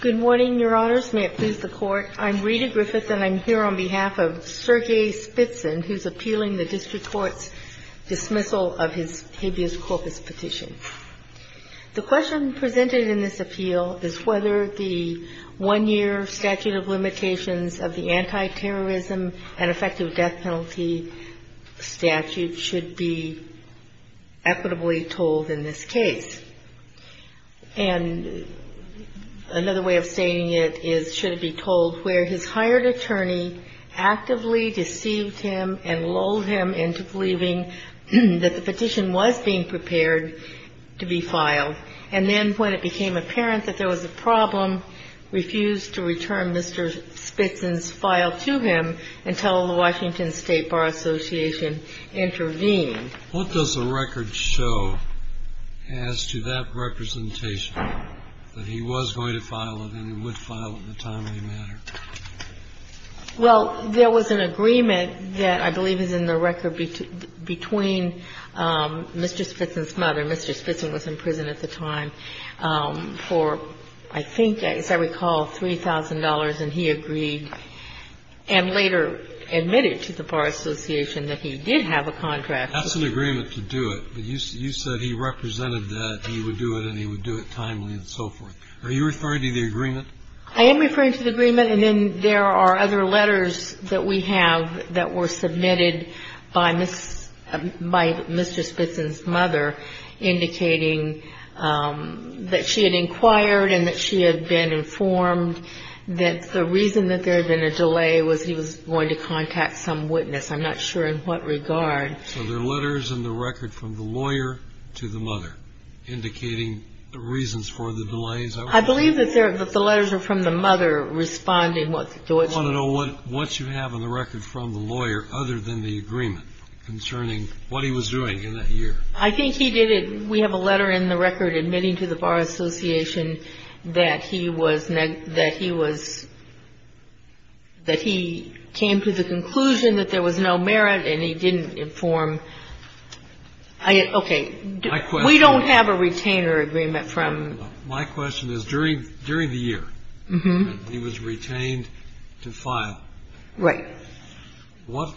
Good morning, Your Honors. May it please the Court. I'm Rita Griffith, and I'm here on behalf of Sergei Spitsyn, who's appealing the district court's dismissal of his habeas corpus petition. The question presented in this appeal is whether the one-year statute of limitations of the anti-terrorism and effective death penalty statute should be Another way of stating it is, should it be told, where his hired attorney actively deceived him and lulled him into believing that the petition was being prepared to be filed. And then when it became apparent that there was a problem, refused to return Mr. Spitsyn's file to him until the Washington State Bar Association intervened. What does the record show as to that representation, that he was going to file it and would file it in a timely manner? Well, there was an agreement that I believe is in the record between Mr. Spitsyn's mother. Mr. Spitsyn was in prison at the time for, I think, as I recall, $3,000, and he agreed and later admitted to the Bar Association that he did have a contract. That's an agreement to do it, but you said he represented that he would do it and he would do it timely and so forth. Are you referring to the agreement? I am referring to the agreement, and then there are other letters that we have that were submitted by Mr. Spitsyn's mother, indicating that she had inquired and that she had been informed that the reason that there had been a delay was he was going to contact some witness. I'm not sure in what regard. So there are letters in the record from the lawyer to the mother indicating the reasons for the delays. I believe that the letters are from the mother responding to what you – I want to know what you have in the record from the lawyer other than the agreement concerning what he was doing in that year. I think he did it – we have a letter in the record admitting to the Bar Association that he was – that he was – that he was doing it and he didn't inform – okay. My question is – We don't have a retainer agreement from – My question is during the year that he was retained to file. Right. What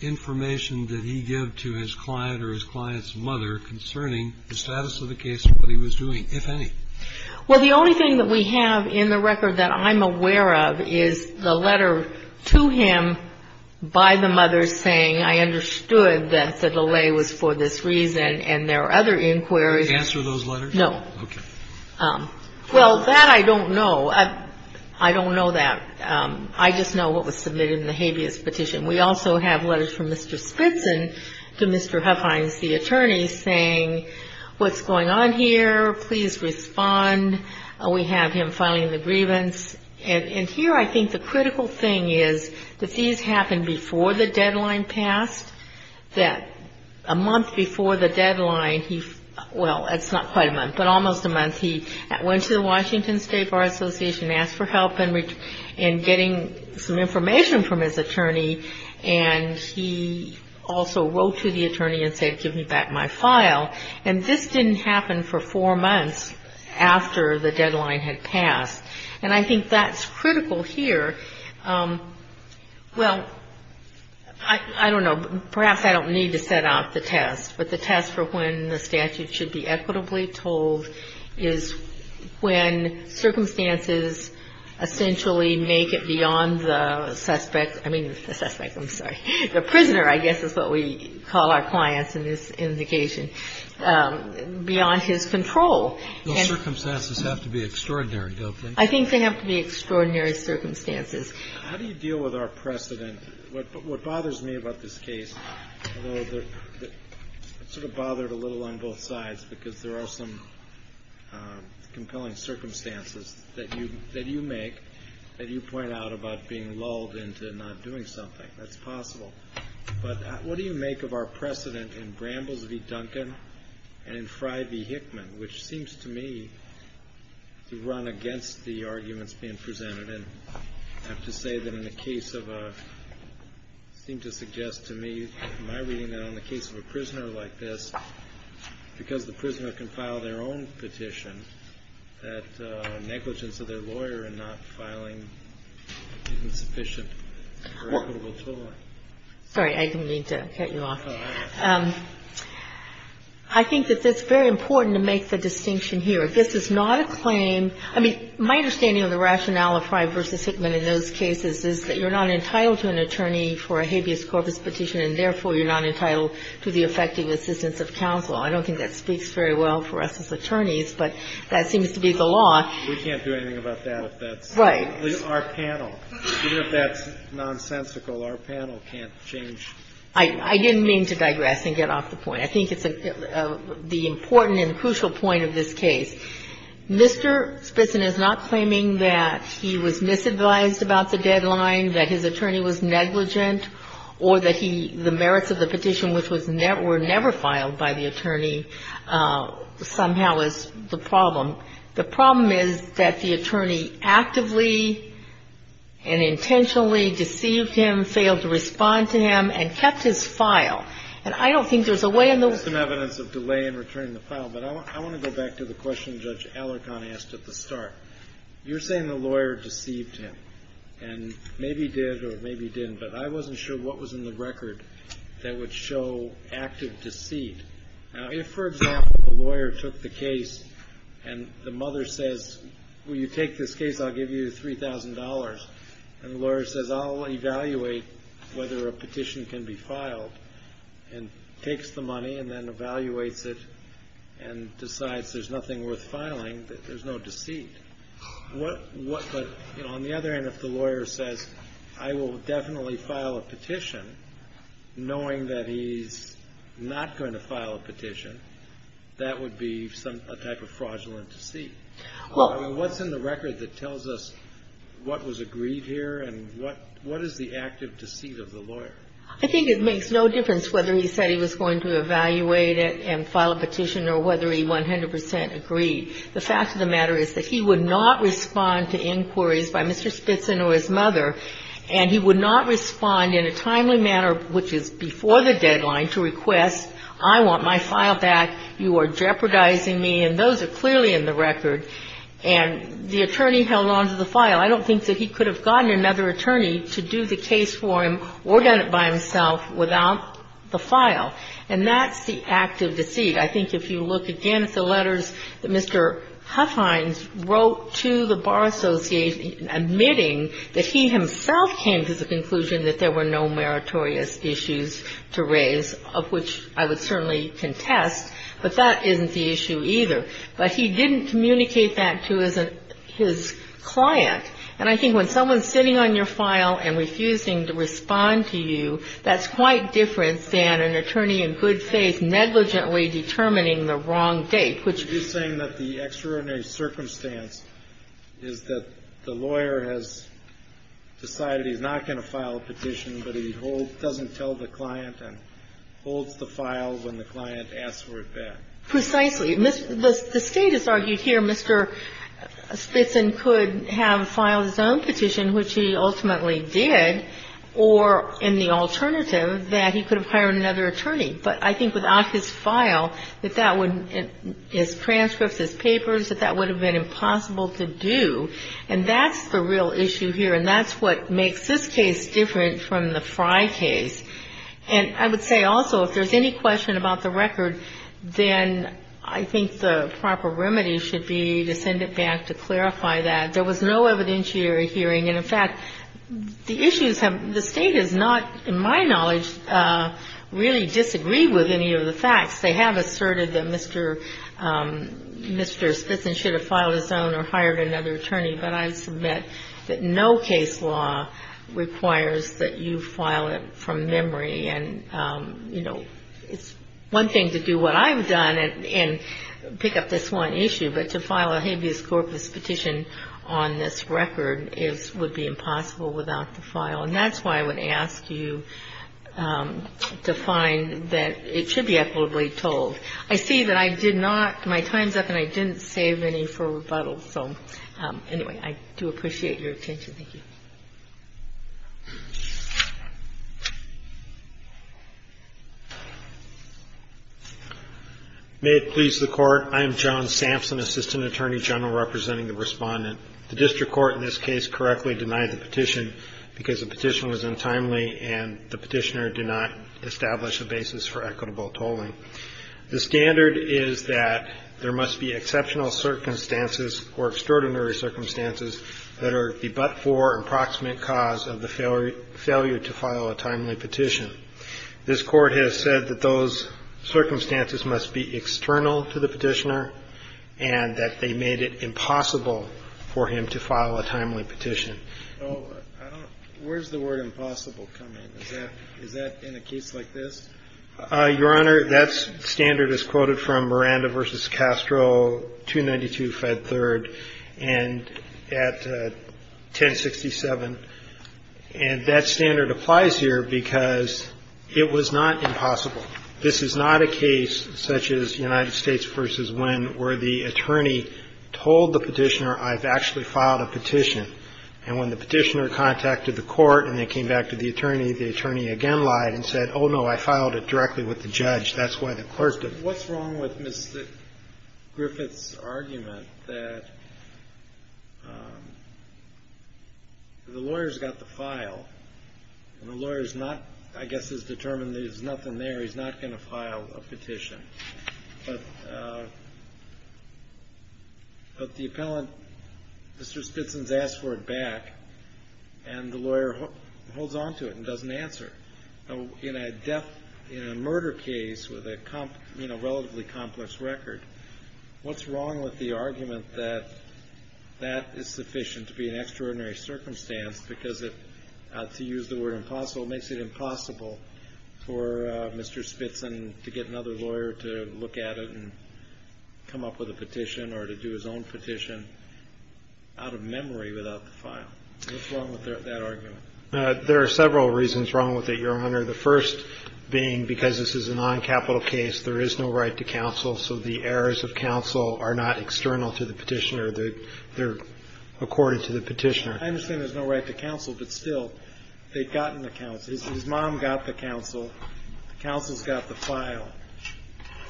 information did he give to his client or his client's mother concerning the status of the case and what he was doing, if any? Well, the only thing that we have in the record that I'm aware of is the letter to him by the mother saying I understood that the delay was for this reason and there are other inquiries. Did he answer those letters? No. Okay. Well, that I don't know. I don't know that. I just know what was submitted in the habeas petition. We also have letters from Mr. Spitzen to Mr. Huffines, the attorney, saying what's going on here? Please respond. We have him filing the grievance. And here I think the critical thing is that these happened before the deadline passed, that a month before the deadline he – well, it's not quite a month, but almost a month. He went to the Washington State Bar Association, asked for help in getting some information from his attorney, and he also wrote to the attorney and said give me back my file. And this didn't happen for four months after the deadline had passed. And I think that's critical here. Well, I don't know. Perhaps I don't need to set out the test, but the test for when the statute should be equitably told is when circumstances essentially make it beyond the suspect – I mean the suspect, I'm sorry. The prisoner, I guess, is what we call our clients in this indication, beyond his control. Those circumstances have to be extraordinary, don't they? I think they have to be extraordinary circumstances. How do you deal with our precedent? What bothers me about this case, although it sort of bothered a little on both sides because there are some compelling circumstances that you make, that you point out about being lulled into not doing something. That's possible. But what do you make of our precedent in Brambles v. Duncan and Fry v. Hickman, which seems to me to run against the arguments being presented? And I have to say that in the case of a – it seemed to suggest to me in my reading that in the case of a prisoner like this, because the prisoner can file their own petition, that negligence of their lawyer in not filing isn't sufficient for equitable tolling. Sorry, I didn't mean to cut you off. I think that it's very important to make the distinction here. This is not a claim – I mean, my understanding of the rationale of Fry v. Hickman in those cases is that you're not entitled to an attorney for a habeas corpus petition, and therefore you're not entitled to the effective assistance of counsel. I don't think that speaks very well for us as attorneys, but that seems to be the law. We can't do anything about that if that's – Right. Our panel. Even if that's nonsensical, our panel can't change. I didn't mean to digress and get off the point. I think it's the important and crucial point of this case. Mr. Spitzen is not claiming that he was misadvised about the deadline, that his attorney was negligent, or that he – the merits of the petition, which were never filed by the attorney, somehow is the problem. The problem is that the attorney actively and intentionally deceived him, failed to respond to him, and kept his file. And I don't think there's a way in the world – There's some evidence of delay in returning the file, but I want to go back to the question Judge Alarcon asked at the start. You're saying the lawyer deceived him, and maybe did or maybe didn't, but I wasn't sure what was in the record that would show active deceit. Now, if, for example, the lawyer took the case and the mother says, Will you take this case? I'll give you $3,000. And the lawyer says, I'll evaluate whether a petition can be filed, and takes the money and then evaluates it and decides there's nothing worth filing, that there's no deceit. But on the other hand, if the lawyer says, I will definitely file a petition, knowing that he's not going to file a petition, that would be a type of fraudulent deceit. I mean, what's in the record that tells us what was agreed here and what is the active deceit of the lawyer? I think it makes no difference whether he said he was going to evaluate it and file a petition or whether he 100 percent agreed. The fact of the matter is that he would not respond to inquiries by Mr. Spitson or his mother, and he would not respond in a timely manner, which is before the deadline, to request, I want my file back, you are jeopardizing me. And those are clearly in the record. And the attorney held on to the file. I don't think that he could have gotten another attorney to do the case for him or done it by himself without the file. And that's the active deceit. I think if you look again at the letters that Mr. Huffines wrote to the Bar Association admitting that he himself came to the conclusion that there were no meritorious issues to raise, of which I would certainly contest, but that isn't the issue either. But he didn't communicate that to his client. And I think when someone is sitting on your file and refusing to respond to you, that's quite different than an attorney in good faith negligently determining the wrong date. Which is saying that the extraordinary circumstance is that the lawyer has decided he's not going to file a petition, but he doesn't tell the client and holds the file when the client asks for it back. Precisely. The State has argued here Mr. Spitzen could have filed his own petition, which he ultimately did, or in the alternative, that he could have hired another attorney. But I think without his file, his transcripts, his papers, that that would have been impossible to do. And that's the real issue here. And that's what makes this case different from the Frye case. And I would say also if there's any question about the record, then I think the proper remedy should be to send it back to clarify that. There was no evidentiary hearing. And, in fact, the issues have the State has not, in my knowledge, really disagreed with any of the facts. They have asserted that Mr. Spitzen should have filed his own or hired another attorney. But I submit that no case law requires that you file it from memory. And, you know, it's one thing to do what I've done and pick up this one issue. But to file a habeas corpus petition on this record would be impossible without the file. And that's why I would ask you to find that it should be equitably told. I see that I did not my time's up and I didn't save any for rebuttal. So, anyway, I do appreciate your attention. Thank you. May it please the Court. I am John Sampson, Assistant Attorney General, representing the Respondent. The district court in this case correctly denied the petition because the petition was untimely and the petitioner did not establish a basis for equitable tolling. The standard is that there must be exceptional circumstances or extraordinary circumstances that are the but-for approximate cause of the failure to file a timely petition. This Court has said that those circumstances must be external to the petitioner and that they made it impossible for him to file a timely petition. Where does the word impossible come in? Is that in a case like this? Your Honor, that standard is quoted from Miranda v. Castro, 292 Fed 3rd, and at 1067. And that standard applies here because it was not impossible. This is not a case such as United States v. Wynn where the attorney told the petitioner I've actually filed a petition. And when the petitioner contacted the court and they came back to the attorney, the attorney again lied and said, oh, no, I filed it directly with the judge. That's why the clerk didn't. What's wrong with Ms. Griffith's argument that the lawyer's got the file and the lawyer's not, I guess, has determined there's nothing there, he's not going to file a petition. But the appellant, Mr. Spitson's asked for it back and the lawyer holds on to it and doesn't answer. In a murder case with a relatively complex record, what's wrong with the argument that that is sufficient to be an extraordinary circumstance because to use the word impossible makes it impossible for Mr. Spitson to get another lawyer to look at it and come up with a petition or to do his own petition out of memory without the file. What's wrong with that argument? There are several reasons wrong with it, Your Honor. The first being because this is a noncapital case, there is no right to counsel, so the errors of counsel are not external to the petitioner. They're accorded to the petitioner. I understand there's no right to counsel, but still, they've gotten the counsel. His mom got the counsel. The counsel's got the file.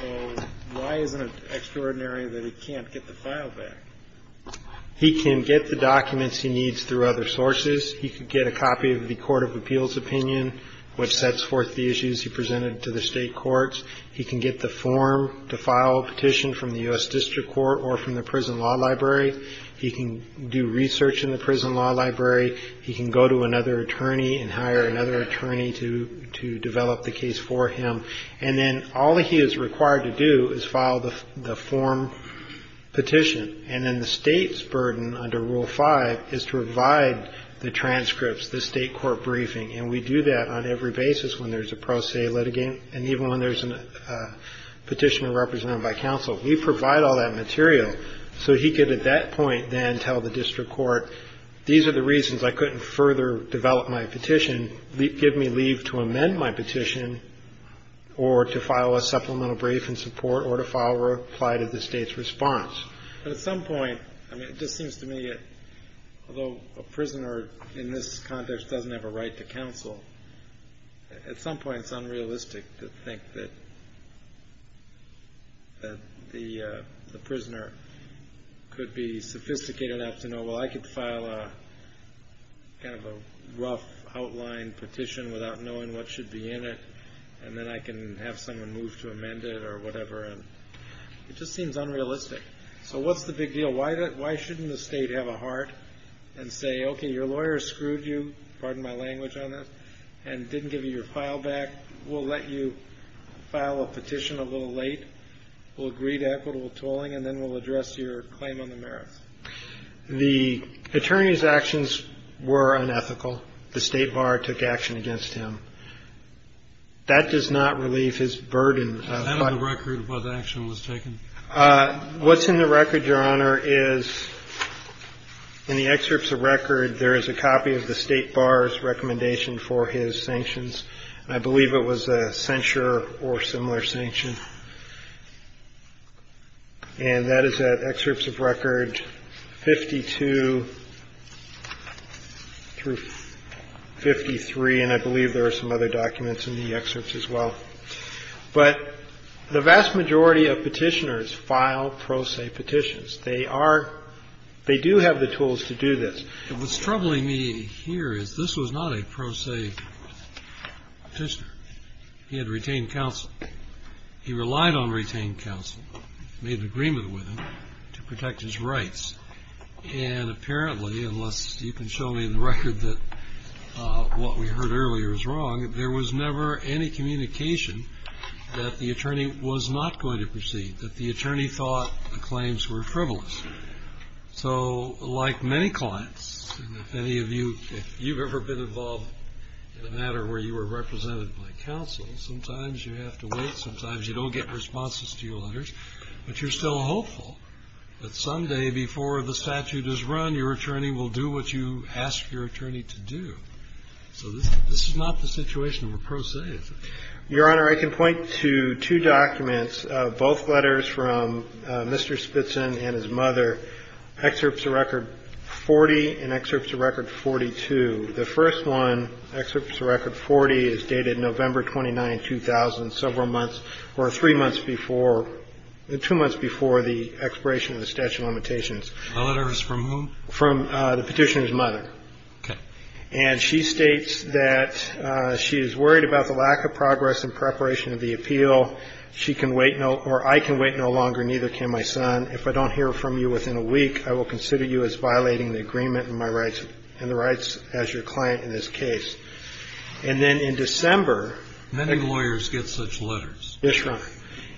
So why isn't it extraordinary that he can't get the file back? He can get the documents he needs through other sources. He could get a copy of the court of appeals opinion, which sets forth the issues he presented to the state courts. He can get the form to file a petition from the U.S. District Court or from the prison law library. He can do research in the prison law library. He can go to another attorney and hire another attorney to develop the case for him. And then all he is required to do is file the form petition. And then the state's burden under Rule 5 is to provide the transcripts, the state court briefing, and we do that on every basis when there's a pro se litigant and even when there's a petitioner represented by counsel. We provide all that material so he could at that point then tell the district court, these are the reasons I couldn't further develop my petition. Give me leave to amend my petition or to file a supplemental brief in support or to file or apply to the state's response. But at some point, I mean, it just seems to me that although a prisoner in this context doesn't have a right to counsel, at some point it's unrealistic to think that the prisoner could be sophisticated enough to know, well, I could file a kind of a rough outline petition without knowing what should be in it, and then I can have someone move to amend it or whatever. It just seems unrealistic. So what's the big deal? Why shouldn't the state have a heart and say, okay, your lawyer screwed you, pardon my language on this, and didn't give you your file back. We'll let you file a petition a little late. We'll agree to equitable tolling, and then we'll address your claim on the merits. The attorney's actions were unethical. The State Bar took action against him. That does not relieve his burden. Is that on the record, what action was taken? What's in the record, Your Honor, is in the excerpts of record, there is a copy of the State Bar's recommendation for his sanctions. I believe it was a censure or similar sanction. And that is at excerpts of record 52 through 53, and I believe there are some other documents in the excerpts as well. But the vast majority of petitioners file pro se petitions. They are they do have the tools to do this. What's troubling me here is this was not a pro se petitioner. He had retained counsel. He relied on retained counsel, made an agreement with him to protect his rights. And apparently, unless you can show me the record that what we heard earlier is wrong, there was never any communication that the attorney was not going to proceed, that the attorney thought the claims were frivolous. So like many clients, many of you, if you've ever been involved in a matter where you were represented by counsel, sometimes you have to wait. Sometimes you don't get responses to your letters. But you're still hopeful that someday before the statute is run, your attorney will do what you ask your attorney to do. So this is not the situation of a pro se. Your Honor, I can point to two documents, both letters from Mr. Spitson and his mother, excerpts of record 40 and excerpts of record 42. The first one, excerpts of record 40, is dated November 29, 2000, several months or three months before, two months before the expiration of the statute of limitations. The letter is from whom? From the petitioner's mother. Okay. And she states that she is worried about the lack of progress in preparation of the appeal. She can wait no or I can wait no longer, neither can my son. If I don't hear from you within a week, I will consider you as violating the agreement in my rights, in the rights as your client in this case. And then in December. Many lawyers get such letters. Yes, Your Honor.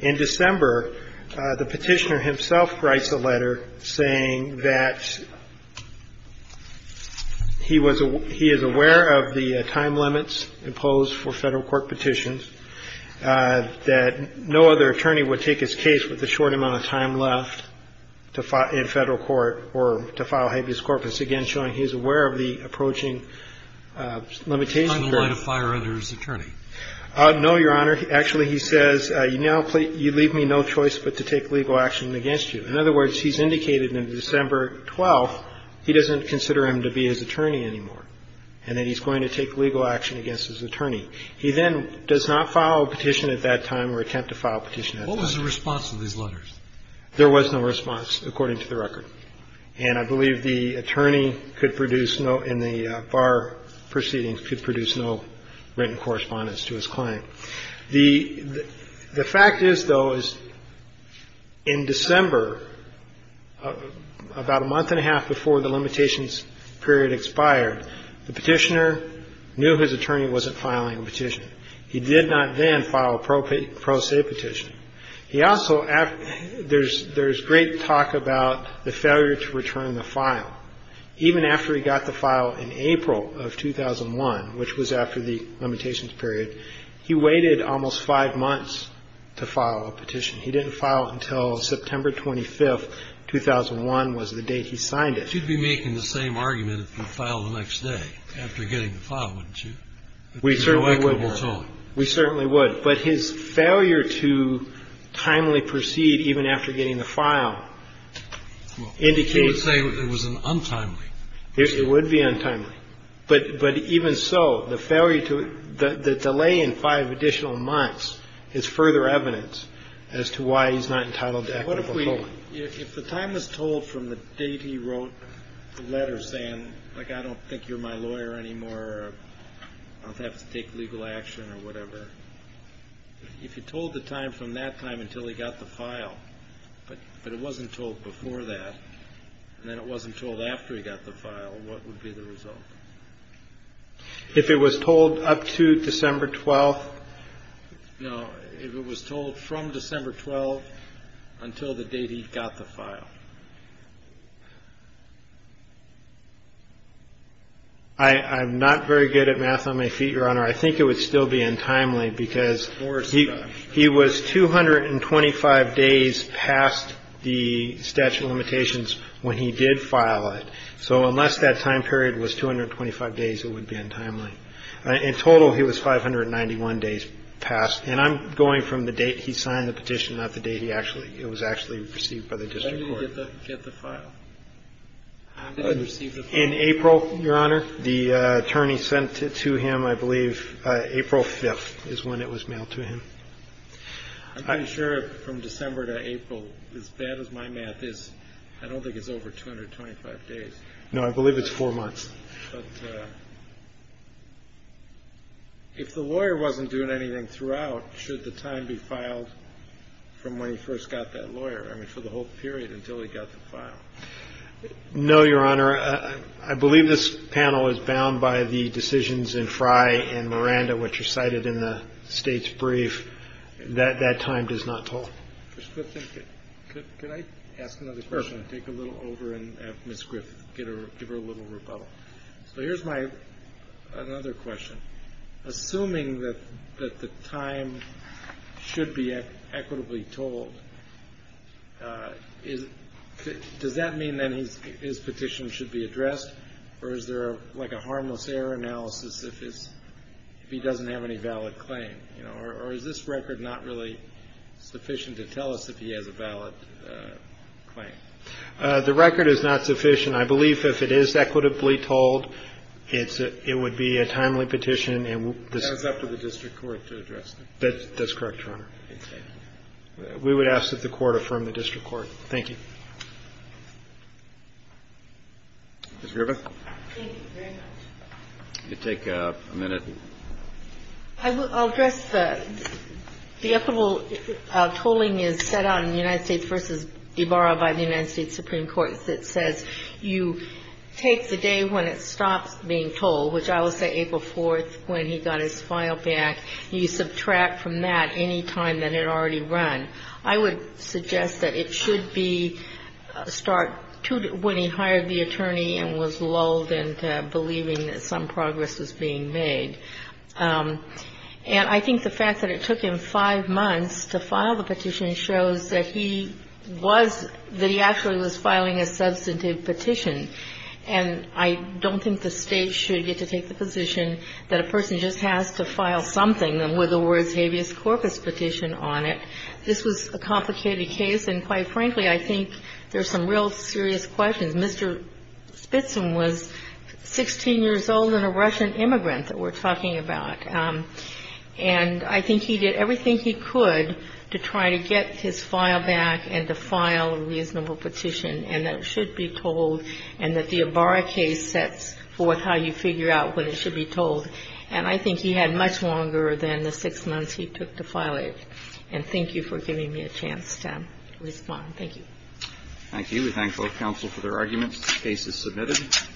In December, the petitioner himself writes a letter saying that he was he is aware of the time limits imposed for Federal court petitions, that no other attorney would take his case with the short amount of time left in Federal court or to file habeas corpus, again showing he is aware of the approaching limitations. I'm not going to fire another attorney. No, Your Honor. Actually, he says, you leave me no choice but to take legal action against you. In other words, he's indicated in December 12th he doesn't consider him to be his attorney anymore and that he's going to take legal action against his attorney. He then does not file a petition at that time or attempt to file a petition at that time. What was the response to these letters? There was no response, according to the record. And I believe the attorney could produce no and the bar proceedings could produce no written correspondence to his client. The fact is, though, is in December, about a month and a half before the limitations period expired, the petitioner knew his attorney wasn't filing a petition. He did not then file a pro se petition. He also there's great talk about the failure to return the file. Even after he got the file in April of 2001, which was after the limitations period, he waited almost five months to file a petition. He didn't file it until September 25th, 2001 was the date he signed it. You'd be making the same argument if you filed the next day after getting the file, wouldn't you? We certainly would. We certainly would. But his failure to timely proceed even after getting the file indicates. He would say it was an untimely. It would be untimely. But even so, the delay in five additional months is further evidence as to why he's not entitled to equitable filing. If the time was told from the date he wrote the letter saying, like, I don't think you're my lawyer anymore, I'll have to take legal action or whatever, if you told the time from that time until he got the file, but it wasn't told before that, and then it wasn't told after he got the file, what would be the result? If it was told up to December 12th? No, if it was told from December 12th until the date he got the file. I'm not very good at math on my feet, Your Honor. I think it would still be untimely because he was 225 days past the statute of limitations when he did file it. So unless that time period was 225 days, it would be untimely. In total, he was 591 days past. And I'm going from the date he signed the petition, not the date it was actually received by the district court. When did he get the file? When did he receive the file? In April, Your Honor. The attorney sent it to him, I believe, April 5th is when it was mailed to him. I'm pretty sure from December to April, as bad as my math is, I don't think it's over 225 days. No, I believe it's four months. But if the lawyer wasn't doing anything throughout, should the time be filed from when he first got that lawyer, I mean, for the whole period until he got the file? No, Your Honor. I believe this panel is bound by the decisions in Frye and Miranda, which are cited in the State's brief. That time is not told. Mr. Griffin, could I ask another question? Take a little over and have Ms. Griffith give her a little rebuttal. So here's my other question. Assuming that the time should be equitably told, does that mean that his petition should be addressed, or is there like a harmless error analysis if he doesn't have any valid claim? Or is this record not really sufficient to tell us if he has a valid claim? The record is not sufficient. I believe if it is equitably told, it would be a timely petition. That's up to the district court to address. That's correct, Your Honor. Okay. We would ask that the court affirm the district court. Thank you. Ms. Griffith. Thank you very much. Could you take a minute? I'll address the equitable tolling is set out in the United States v. Ibarra by the United States Supreme Court that says you take the day when it stops being tolled, which I will say April 4th when he got his file back, you subtract from that any time that it had already run. I would suggest that it should be start when he hired the attorney and was lulled into believing that some progress was being made. And I think the fact that it took him five months to file the petition shows that he was, that he actually was filing a substantive petition. And I don't think the State should get to take the position that a person just has to file something with the words habeas corpus petition on it. This was a complicated case. And quite frankly, I think there's some real serious questions. Mr. Spitzin was 16 years old and a Russian immigrant that we're talking about. And I think he did everything he could to try to get his file back and to file a reasonable petition, and that it should be tolled and that the Ibarra case sets forth how you figure out when it should be tolled. And I think he had much longer than the six months he took to file it. And thank you for giving me a chance to respond. Thank you. Thank you. We thank both counsel for their arguments. The case is submitted.